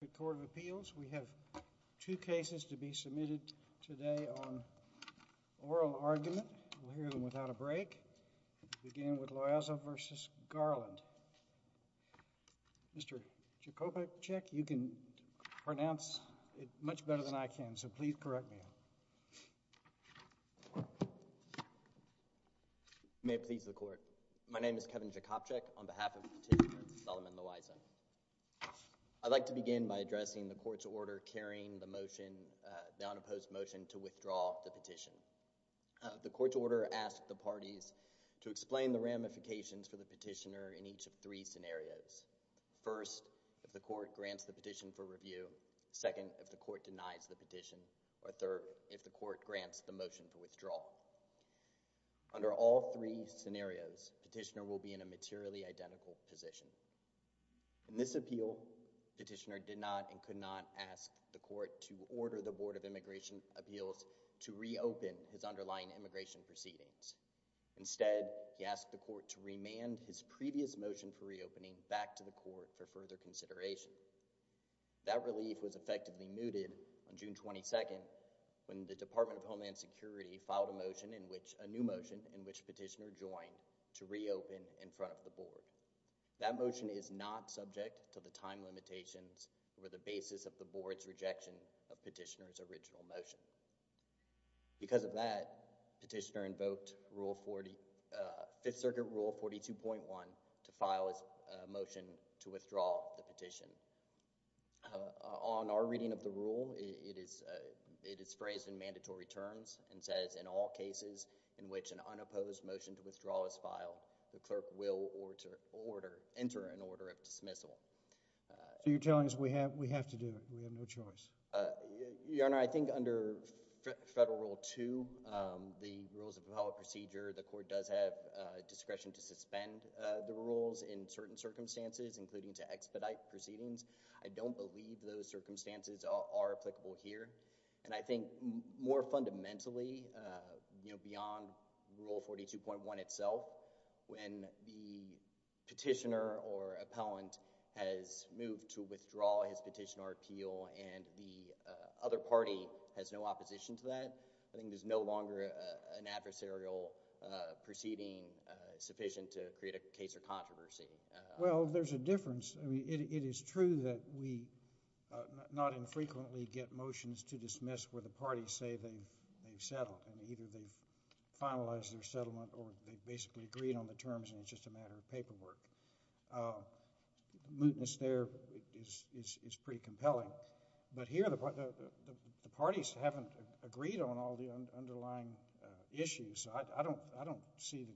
The Court of Appeals. We have two cases to be submitted today on oral argument. We'll hear them without a break. We'll begin with Loayza v. Garland. Mr. Jakobczak, you can pronounce it much better than I can, so please correct me. May it please the Court. My name is Kevin Jakobczak on behalf of the petitioner, Solomon Loayza. I'd like to begin by addressing the Court's order carrying the motion, the unopposed motion to withdraw the petition. The Court's order asks the parties to explain the ramifications for the petitioner in each of three scenarios. First, if the Court grants the petition for review. Second, if the Court denies the petition. Or third, if the Court grants the motion to In this appeal, the petitioner did not and could not ask the Court to order the Board of Immigration Appeals to reopen his underlying immigration proceedings. Instead, he asked the Court to remand his previous motion for reopening back to the Court for further consideration. That relief was effectively mooted on June 22nd when the Department of Homeland Security filed a motion in which, a new motion, in which petitioner joined to reopen in front of the Board. That motion is not subject to the time limitations or the basis of the Board's rejection of petitioner's original motion. Because of that, petitioner invoked Rule 40, Fifth Circuit Rule 42.1 to file a motion to withdraw the petition. On our reading of the rule, it is phrased in mandatory terms and says, in all cases in which an unopposed motion to withdraw is filed, the clerk will enter an order of dismissal. So you're telling us we have to do it. We have no choice. Your Honor, I think under Federal Rule 2, the Rules of Propeller Procedure, the Court does have discretion to suspend the rules in certain circumstances, including to expedite proceedings. I don't believe those circumstances are applicable here. And I think more fundamentally, you know, beyond Rule 42.1 itself, when the petitioner or appellant has moved to withdraw his petition or appeal and the other party has no opposition to that, I think there's no longer an adversarial proceeding sufficient to create a case or controversy. Well, there's a difference. I mean, it is true that we not infrequently get motions to dismiss where the parties say they've settled and either they've finalized their settlement or they've basically agreed on the terms and it's just a matter of paperwork. Mutinous there is pretty compelling. But here, the parties haven't agreed on all the underlying issues. I don't see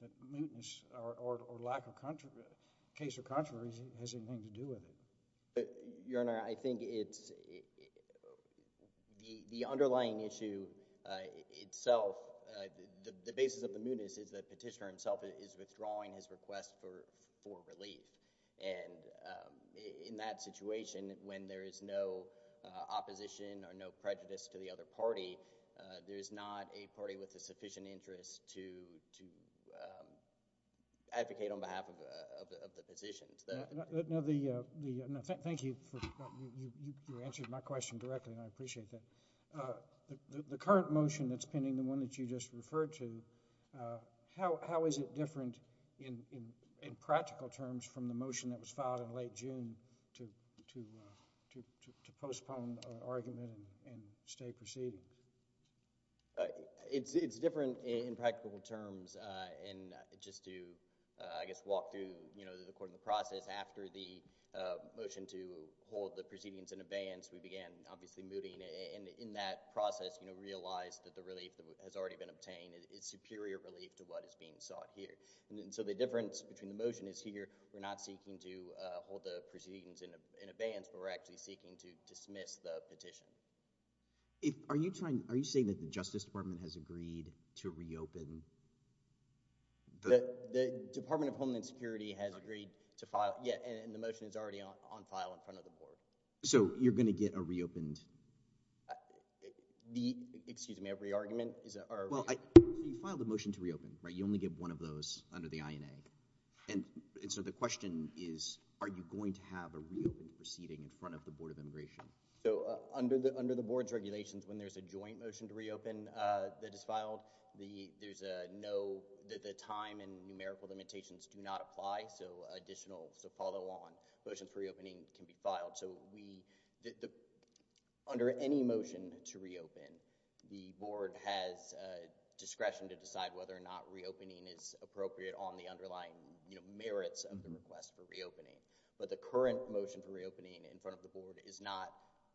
that mutinous or lack of controversy, case or controversy, has anything to do with it. Your Honor, I think it's, the underlying issue itself, the basis of the mutinous is that the petitioner himself is withdrawing his request for relief. And in that situation, when there is no opposition or no prejudice to the other party, there is not a party with a sufficient interest to advocate on behalf of the position. Thank you for, you answered my question directly and I appreciate that. The current motion that's pending, the one that you just referred to, how is it different in practical terms from the motion that was filed in late June to postpone argument and stay proceeding? It's different in practical terms. And just to, I guess, walk through, you know, according to the process, after the motion to hold the proceedings in abeyance, we began obviously mooting. And in that process, you know, realized that the relief that has already been obtained is superior relief to what is being sought here. And so the difference between the motion is here, we're not seeking to hold the proceedings in abeyance, but we're actually seeking to dismiss the petition. Are you trying, are you saying that the Justice Department has agreed to reopen? The Department of Homeland Security has agreed to file, yeah, and the motion is already on file in front of the board. So you're going to get a reopened? The, excuse me, a re-argument? Well, you filed a motion to reopen, right? You only get one of those under the INA. And so the question is, are you going to have a reopened proceeding in front of the Board of Immigration? So under the, under the board's regulations, when there's a joint motion to reopen that is filed, the, there's a no, the time and numerical limitations do not apply, so additional follow-on motions for reopening can be filed. So we, under any motion to reopen, the board has discretion to decide whether or not reopening is appropriate on the underlying, you know, merits of the request for reopening. But the current motion for reopening in front of the board is not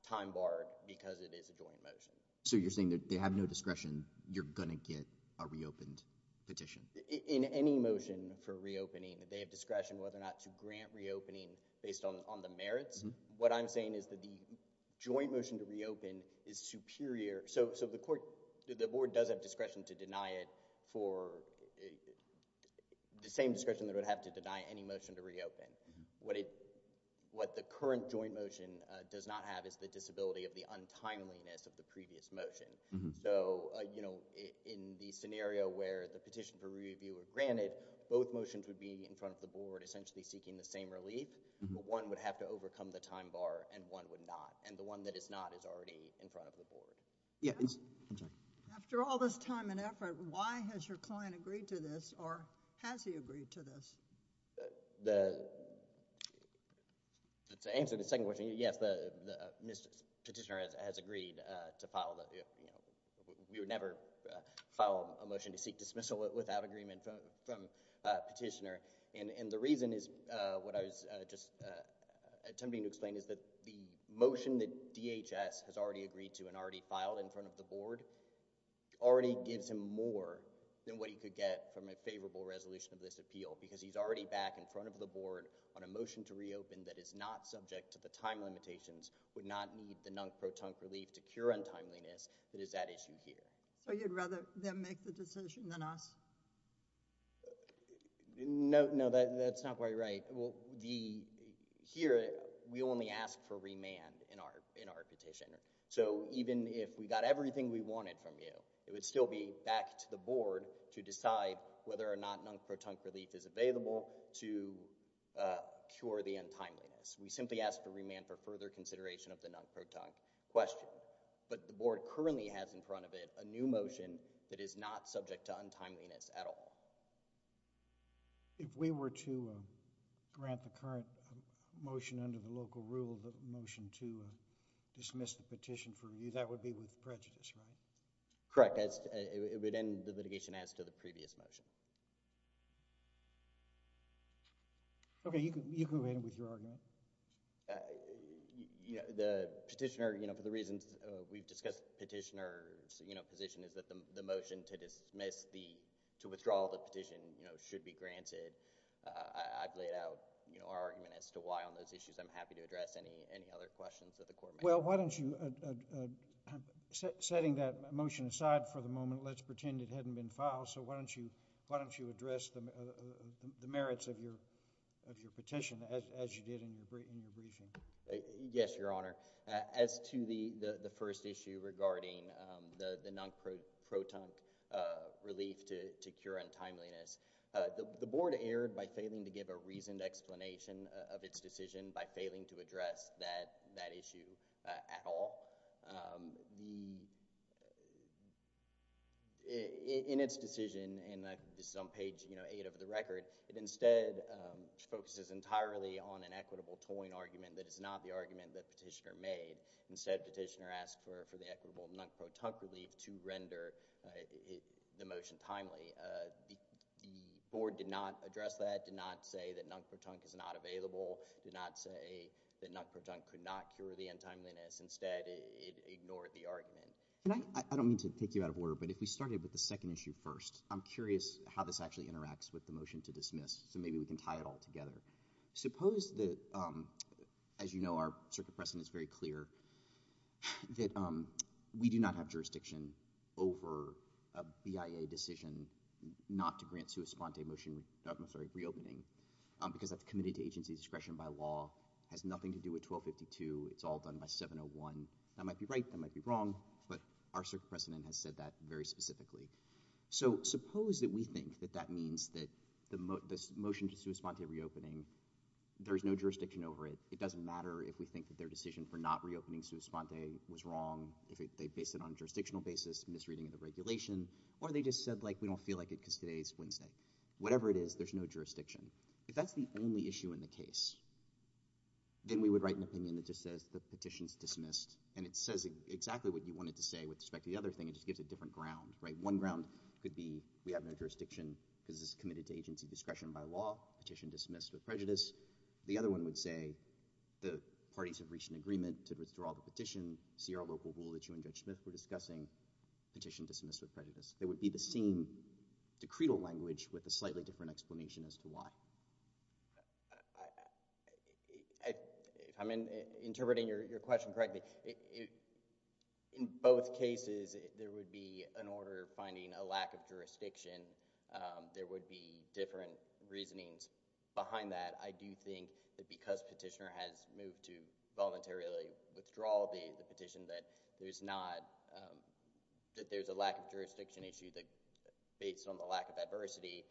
time-barred because it is a joint motion. So you're saying that they have no discretion, you're going to get a reopened petition? In any motion for reopening, they have discretion whether or not to grant reopening based on the merits. What I'm saying is that the joint motion to reopen is superior, so the court, the board does have discretion to deny it for the same discretion that it would have to deny any motion to reopen. What it, what the current joint motion does not have is the disability of the untimeliness of the previous motion. So, you know, in the scenario where the petition for review was granted, both motions would be in front of the board essentially seeking the same relief, but one would have to overcome the time bar and one would not, and the one that is not is already in front of the board. Yeah, I'm sorry. After all this time and effort, why has your client agreed to this, or has he agreed to this? The, to answer the second question, yes, the petitioner has agreed to file, you know, we would never file a motion to seek dismissal without agreement from a petitioner, and the reason is what I was just attempting to explain is that the motion that DHS has already agreed to and already filed in front of the board already gives him more than what he could get from a favorable resolution of this appeal because he's already back in front of the board on a motion to reopen that is not subject to the time limitations, would not need the non-protunct relief to cure untimeliness that is at issue here. So you'd rather them make the decision than us? No, no, that's not quite right. Well, the, here we only ask for remand in our, in our petition, so even if we got everything we wanted from you, it would still be back to the board to decide whether or not non-protunct relief is available to cure the untimeliness. We simply ask for remand for further consideration of the non-protunct question, but the board currently has in front of it a new motion that is not subject to untimeliness at all. If we were to grant the current motion under the local rule, the motion to dismiss the petition from you, that would be with prejudice, right? Correct, it would end the litigation as to the previous motion. Okay, you can go ahead and withdraw again. You know, the petitioner, you know, for the reasons we've discussed, petitioner's, you know, position is that the motion to dismiss the, to withdraw the petition, you know, should be granted. I've laid out, you know, our argument as to why on those issues. I'm happy to address any, any other questions that the court may have. Well, why don't you, setting that motion aside for the moment, let's pretend it hadn't been filed, so why don't you, why don't you address the merits of your, of your petition as you did in the, in the revision? Yes, Your Honor. As to the, the first issue regarding the non-protunct relief to cure untimeliness, the board erred by failing to give a reasoned explanation of its decision by failing to address that, that issue at all. In its decision, and this is on page, you know, eight of the record, it instead focuses entirely on an equitable toying argument that is not the argument that petitioner made. Instead, petitioner asked for, for the equitable non-protunct relief to render the motion timely. The board did not address that, did not say that non-protunct is not available, did not say that non-protunct could not cure the untimeliness. Instead, it ignored the argument. And I, I don't mean to take you out of order, but if we started with the second issue first, I'm curious how this actually interacts with the motion to dismiss, so maybe we can tie it all together. Suppose that, as you know, our circuit precedent is very clear, that we do not have jurisdiction over a BIA decision not to grant sua sponte motion, government authority reopening, because that's committed to agency discretion by law, has nothing to do with 1252, it's all done by 701. That might be right, that might be wrong, but our circuit precedent has said that very specifically. So suppose that we think that that means that the motion to sua sponte reopening, there's no jurisdiction over it, it doesn't matter if we think that their decision for not reopening sua sponte was wrong, if they based it on a jurisdictional basis, misreading of the regulation, or they just said, like, we don't feel like it because today's Wednesday. Whatever it is, there's no jurisdiction. If that's the only issue in the case, then we would write an opinion that just says the petition's dismissed, and it says exactly what you wanted to say with respect to the other thing, it just gives a different ground, right? One ground could be we have no jurisdiction because this is committed to agency discretion by law, petition dismissed with prejudice. The other one would say the parties have reached an agreement to withdraw the petition, see our local rule that you and Judge Smith were discussing, petition dismissed with prejudice. It would be the same decretal language with a slightly different explanation as to why. I'm interpreting your question correctly. In both cases, there would be an order finding a lack of jurisdiction. There would be different reasonings behind that. I do think that because petitioner has moved to voluntarily withdraw the petition that there's not, that there's a lack of jurisdiction issue that based on the lack of adversity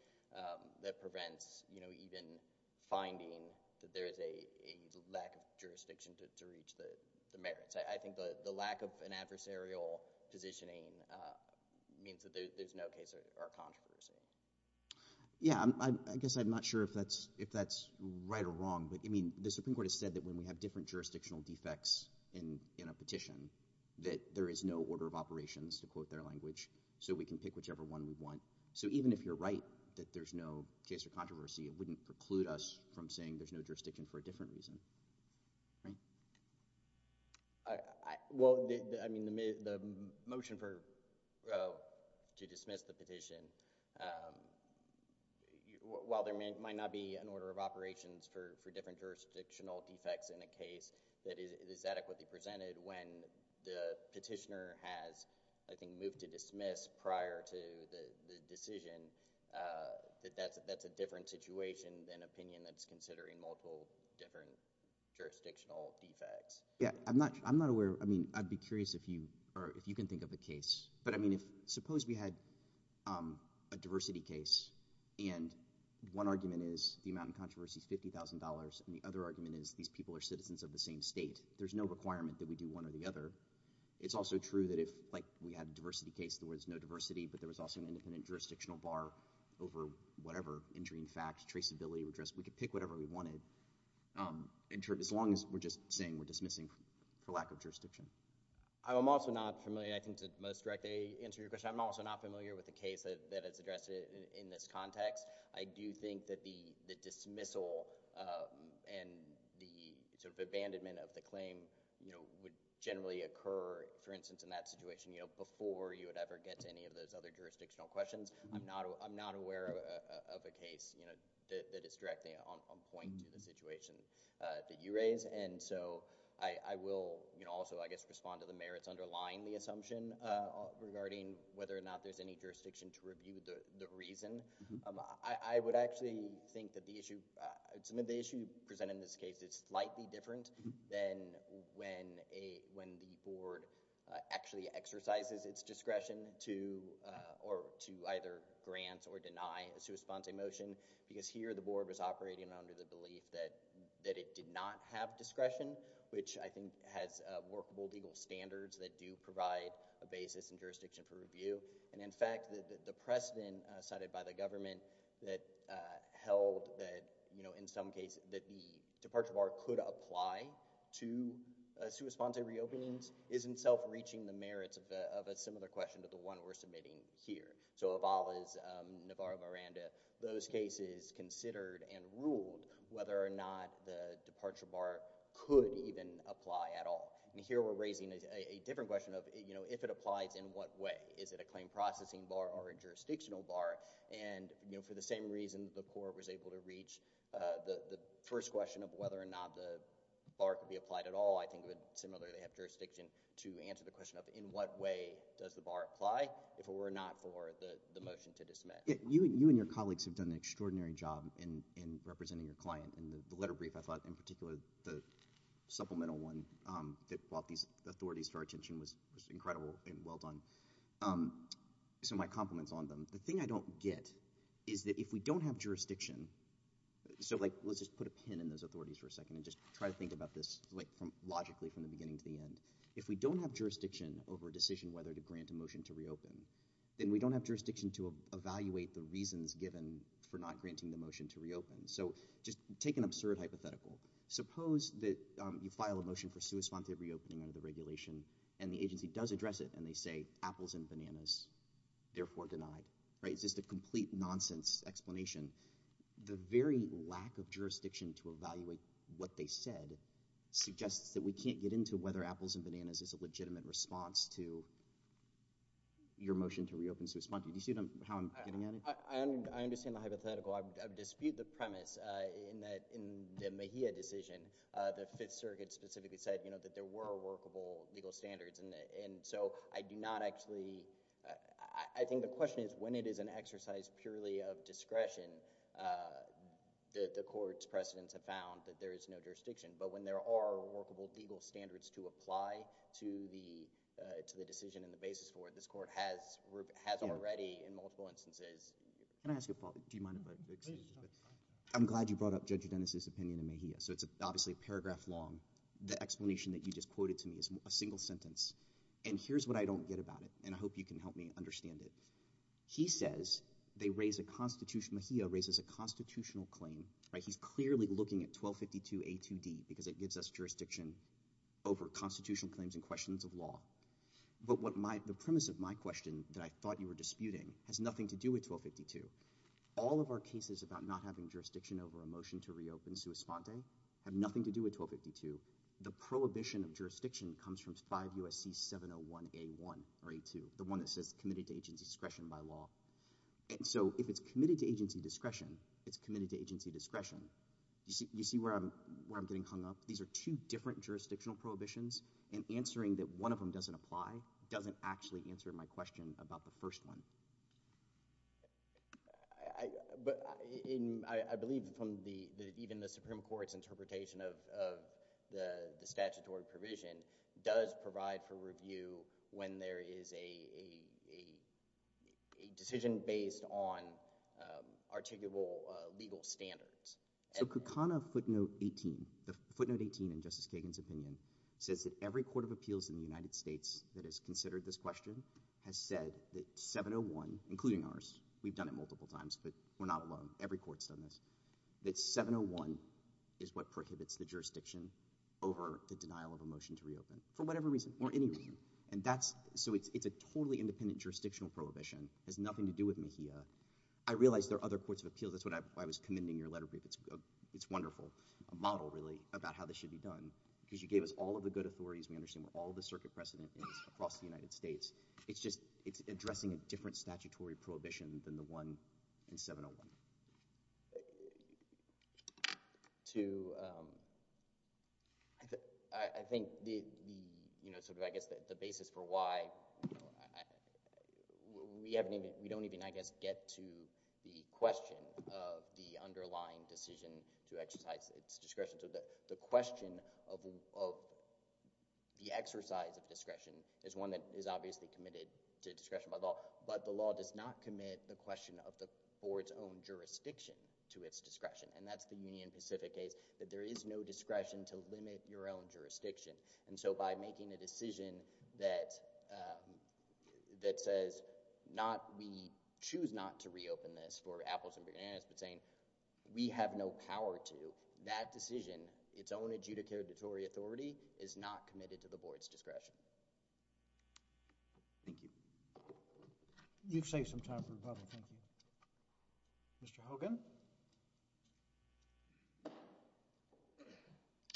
that prevents, you know, even finding that there is a lack of jurisdiction to reach the merits. I think the lack of an adversarial positioning means that there's no case or controversy. Yeah, I guess I'm not sure if that's right or wrong, but I mean, the Supreme Court has said that when we have different jurisdictional defects in a petition, that there is no order of operations, to quote their language, so we can pick whichever one we want. So, even if you're right that there's no case or controversy, it wouldn't preclude us from saying there's no jurisdiction for a different reason, right? Well, I mean, the motion to dismiss the petition, while there might not be an order of operations for different jurisdictional defects in a case that is adequately presented when the Supreme Court makes a decision, that that's a different situation than an opinion that's considering multiple different jurisdictional defects. Yeah, I'm not aware, I mean, I'd be curious if you can think of a case, but I mean, if suppose we had a diversity case, and one argument is the amount in controversy is $50,000, and the other argument is these people are citizens of the same state. There's no requirement that we do one or the other. It's also true that if, like, we had a diversity case, there was no diversity, but there was also an independent jurisdictional bar over whatever injury in fact, traceability, we could pick whatever we wanted, as long as we're just saying we're dismissing for lack of jurisdiction. I'm also not familiar, I think to most directly answer your question, I'm also not familiar with the case that is addressed in this context. I do think that the dismissal and the sort of abandonment of the claim, you know, would generally occur, for instance, in that situation, you know, before you would ever get to any of those other jurisdictional questions. I'm not aware of a case, you know, that is directly on point to the situation that you raise, and so I will, you know, also, I guess, respond to the merits underlying the assumption regarding whether or not there's any jurisdiction to review the reason. I would actually think that the issue, some of the issue presented in this case is slightly different than when the board actually exercises its discretion to, or to either grant or deny a sua sponsa motion, because here the board was operating under the belief that it did not have discretion, which I think has workable legal standards that do provide a basis and jurisdiction for review, and in fact, the precedent cited by the government that held that, you know, in some cases, that the departure bar could apply to sua sponsa re-openings isn't self-reaching the merits of a similar question to the one we're submitting here. So Avala's Navarro-Miranda, those cases considered and ruled whether or not the departure bar could even apply at all. And here we're raising a different question of, you know, if it applies, in what way? Is it a claim processing bar or a jurisdictional bar? And, you know, for the same reason the court was able to reach the first question of whether or not the bar could be applied at all, I think it would similarly have jurisdiction to answer the question of in what way does the bar apply, if it were not for the motion to dismiss. You and your colleagues have done an extraordinary job in representing your client. In the letter brief, I thought in particular the supplemental one that brought these authorities to our attention was incredible and well done. So my compliments on them. The thing I don't get is that if we don't have jurisdiction, so let's just put a pin in those authorities for a second and just try to think about this logically from the beginning to the end. If we don't have jurisdiction over a decision whether to grant a motion to re-open, then we don't have jurisdiction to evaluate the reasons given for not granting the motion to re-open. So just take an absurd hypothetical. Suppose that you file a motion for sua sponsa re-opening under the regulation and the agency does address it and they say apples and bananas, therefore denied. It's just a complete nonsense explanation. The very lack of jurisdiction to evaluate what they said suggests that we can't get into whether apples and bananas is a legitimate response to your motion to re-open sua sponsa. Do you see how I'm getting at it? I understand the hypothetical. I dispute the premise in the Mejia decision that Fifth Circuit specifically said that there were workable legal standards and so I do not actually, I think the question is when it is an exercise purely of discretion, the court's precedents have found that there is no jurisdiction. But when there are workable legal standards to apply to the decision and the basis for it, this court has already in multiple instances. Can I ask you a problem? Do you mind if I? Please. I'm glad you brought up Judge Udenis' opinion in Mejia. So it's obviously a paragraph long. The explanation that you just quoted to me is a single sentence and here's what I don't get about it and I hope you can help me understand it. He says they raise a constitutional, Mejia raises a constitutional claim. He's clearly looking at 1252 A2D because it gives us jurisdiction over constitutional claims and questions of law. But the premise of my question that I thought you were disputing has nothing to do with 1252. All of our cases about not having jurisdiction over a motion to reopen sua sponte have nothing to do with 1252. The prohibition of jurisdiction comes from 5 U.S.C. 701 A1 or A2, the one that says committed to agency discretion by law. And so if it's committed to agency discretion, it's committed to agency discretion. You see where I'm getting hung up? These are two different jurisdictional prohibitions and answering that one of them doesn't apply doesn't actually answer my question about the first one. I believe even the Supreme Court's interpretation of the statutory provision does provide for review when there is a decision based on articulable legal standards. So Kukana footnote 18, the footnote 18 in Justice Kagan's opinion says that every court of appeals in the United States that has considered this question has said that 701, including ours, we've done it multiple times, but we're not alone. Every court's done this. That 701 is what prohibits the jurisdiction over the denial of a motion to reopen for whatever reason or any reason. So it's a totally independent jurisdictional prohibition. It has nothing to do with MHIA. I realize there are other courts of appeals. That's why I was commending your letter. It's wonderful. It's a model, really, about how this should be done because you gave us all of the good authorities. We understand all of the circuit precedent across the United States. It's addressing a different statutory prohibition than the one in 701. I think the basis for why we don't even, I guess, get to the question of the underlying decision to exercise its discretion. So the question of the exercise of discretion is one that is obviously committed to discretion by law, but the law does not commit the question for its own jurisdiction to its discretion. And that's the Union Pacific case, that there is no discretion to limit your own jurisdiction. And so by making a decision that says we choose not to reopen this for apples and bananas, but saying we have no power to, that decision, its own adjudicatory authority, is not committed to the board's discretion. Thank you. You've saved some time for the public. Thank you. Mr. Hogan?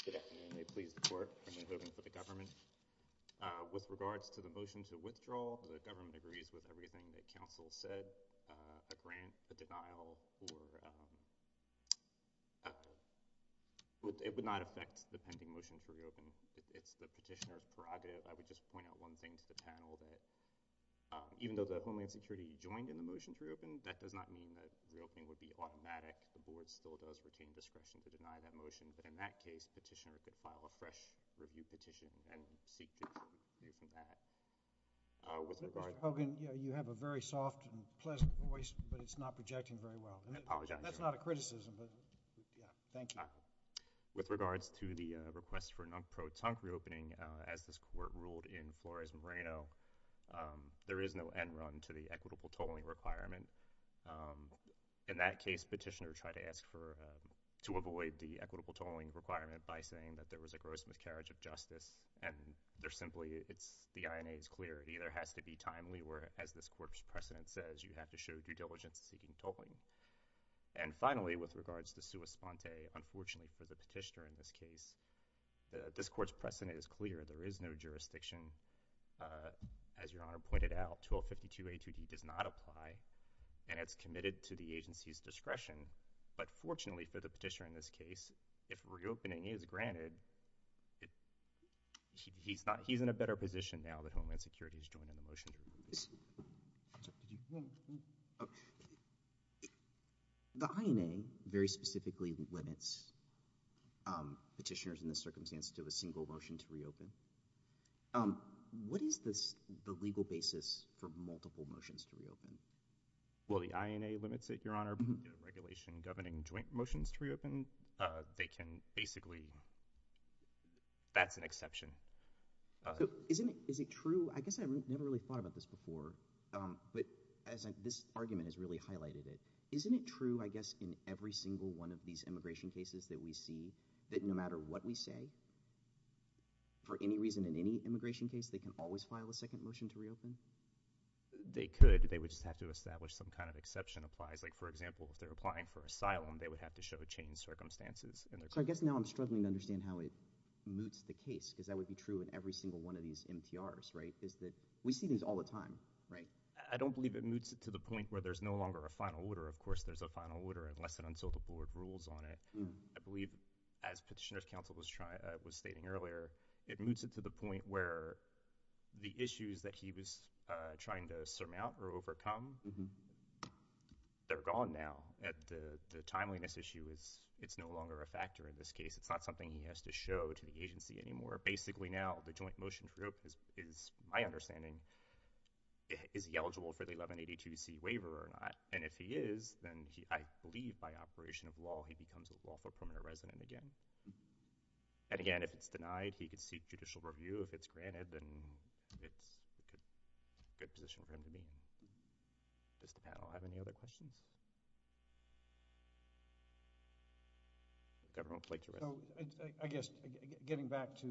Good afternoon. May it please the Court. I'm in favor of the government. With regards to the motion to withdraw, the government agrees with everything that counsel has said. A grant, a denial, or, it would not affect the pending motion to reopen. It's the petitioner's prerogative. I would just point out one thing to the panel, that even though the Homeland Security joined in the motion to reopen, that does not mean that reopening would be automatic. The board still does retain discretion to deny that motion. But in that case, the petitioner could file a fresh review petition and seek to hear from that. Mr. Hogan, you have a very soft and pleasant voice, but it's not projecting very well. I apologize. That's not a criticism. Thank you. With regards to the request for a non-pro-tunk reopening, as this Court ruled in Flores-Moreno, there is no end run to the equitable tolling requirement. In that case, petitioner tried to ask for, to avoid the equitable tolling requirement by saying that there was a gross miscarriage of justice, and they're simply, it's, the INA is clear. It either has to be timely or, as this Court's precedent says, you have to show due diligence to seeking tolling. And finally, with regards to sua sponte, unfortunately for the petitioner in this case, this Court's precedent is clear. There is no jurisdiction. As Your Honor pointed out, 1252A2D does not apply, and it's committed to the agency's discretion. But fortunately for the petitioner in this case, if reopening is granted, he's not, he's in a better position now that Homeland Security has joined in the motion to reopen. The INA very specifically limits petitioners in this circumstance to a single motion to reopen. What is this, the legal basis for multiple motions to reopen? Well, the INA limits it, Your Honor. The regulation governing joint motions to reopen, they can basically, that's an exception. So, isn't it, is it true, I guess I've never really thought about this before, but as this argument has really highlighted it, isn't it true, I guess, in every single one of these immigration cases that we see, that no matter what we say, for any reason in any immigration situation, they could, they would just have to establish some kind of exception applies. Like, for example, if they're applying for asylum, they would have to show changed circumstances in their case. So, I guess now I'm struggling to understand how it moots the case, because that would be true in every single one of these MTRs, right, is that we see these all the time, right? I don't believe it moots it to the point where there's no longer a final order. Of course, there's a final order unless and until the board rules on it. I believe, as Petitioner's Counsel was stating earlier, it moots it to the point where the issues that he was trying to surmount or overcome, they're gone now. The timeliness issue, it's no longer a factor in this case. It's not something he has to show to the agency anymore. Basically, now, the joint motion group is my understanding, is he eligible for the 1182C waiver or not? And if he is, then I believe by operation of law, he becomes a lawful permanent resident again. And again, if it's denied, he could seek judicial review. If it's granted, then it's a good position for him to be in. Does the panel have any other questions? The Governor will take the rest. I guess, getting back to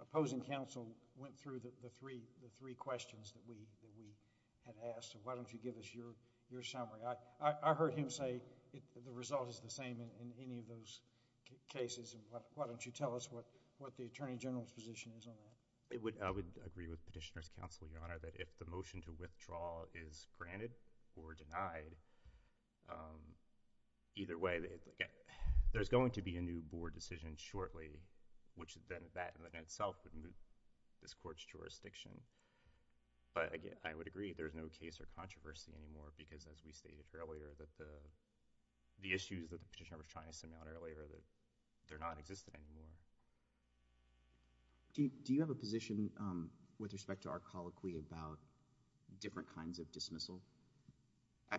opposing counsel went through the three questions that we had asked. Why don't you give us your summary? I heard him say the result is the same in any of those cases. Why don't you tell us what the Attorney General's position is on that? I would agree with Petitioner's Counsel, Your Honor, that if the motion to withdraw is granted or denied, either way, there's going to be a new board decision shortly, which then that in itself would move this court's jurisdiction. But I would agree there's no case or controversy anymore because as we stated earlier, the issues that the Petitioner was trying to send out earlier, they're not existing anymore. Do you have a position with respect to our colloquy about different kinds of dismissal?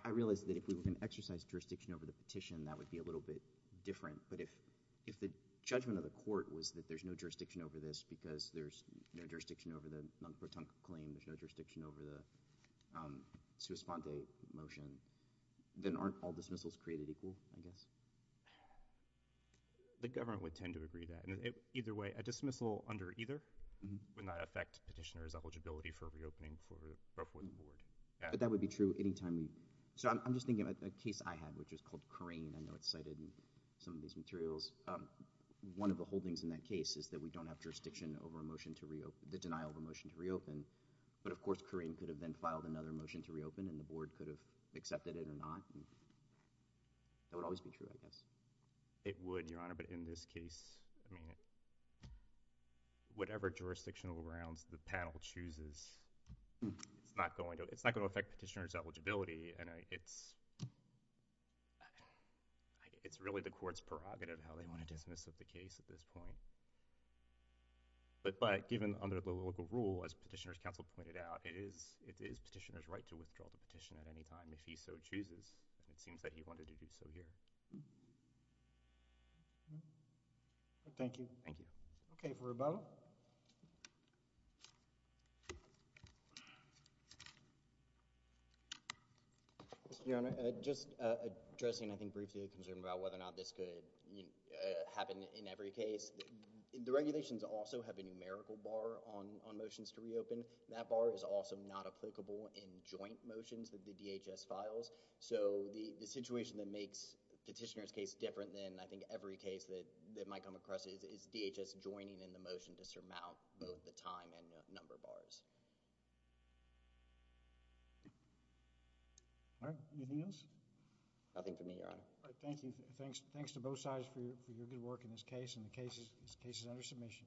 I realize that if we were going to exercise jurisdiction over the petition, that would be a little bit different. But if the judgment of the court was that there's no jurisdiction over this because there's no jurisdiction over the Munk-Potunk claim, there's no jurisdiction over the Swiss-Fonte motion, then aren't all dismissals created equal, I guess? The government would tend to agree that. Either way, a dismissal under either would not affect Petitioner's eligibility for reopening for the Brooklyn Board. But that would be true any time. So I'm just thinking of a case I had, which was called Carain. I know it's cited in some of these materials. One of the holdings in that case is that we don't have jurisdiction over the denial of a motion to reopen. But of course, Carain could have then filed another motion to reopen and the Board could have accepted it or not. That would always be true, I guess. It would, Your Honor, but in this case, whatever jurisdictional grounds the panel chooses, it's not going to affect Petitioner's eligibility. It's really the Court's prerogative how they want to dismiss the case at this point. But given under the local rule, as Petitioner's counsel pointed out, it is Petitioner's right to withdraw the petition at any time if he so chooses. It seems that he wanted to do so here. Thank you. Thank you. Okay, for Rebella. Your Honor, just addressing I think briefly a concern about whether or not this could happen in every case. The regulations also have a numerical bar on motions to reopen. That bar is also not applicable in joint motions that the DHS files. So the situation that makes Petitioner's case different than I think every case that might come across is DHS joining in the motion to surmount both the time and the number bars. All right. Anything else? Nothing for me, Your Honor. All right. Thank you. Thanks to both sides for your good work in this case. This case is under submission.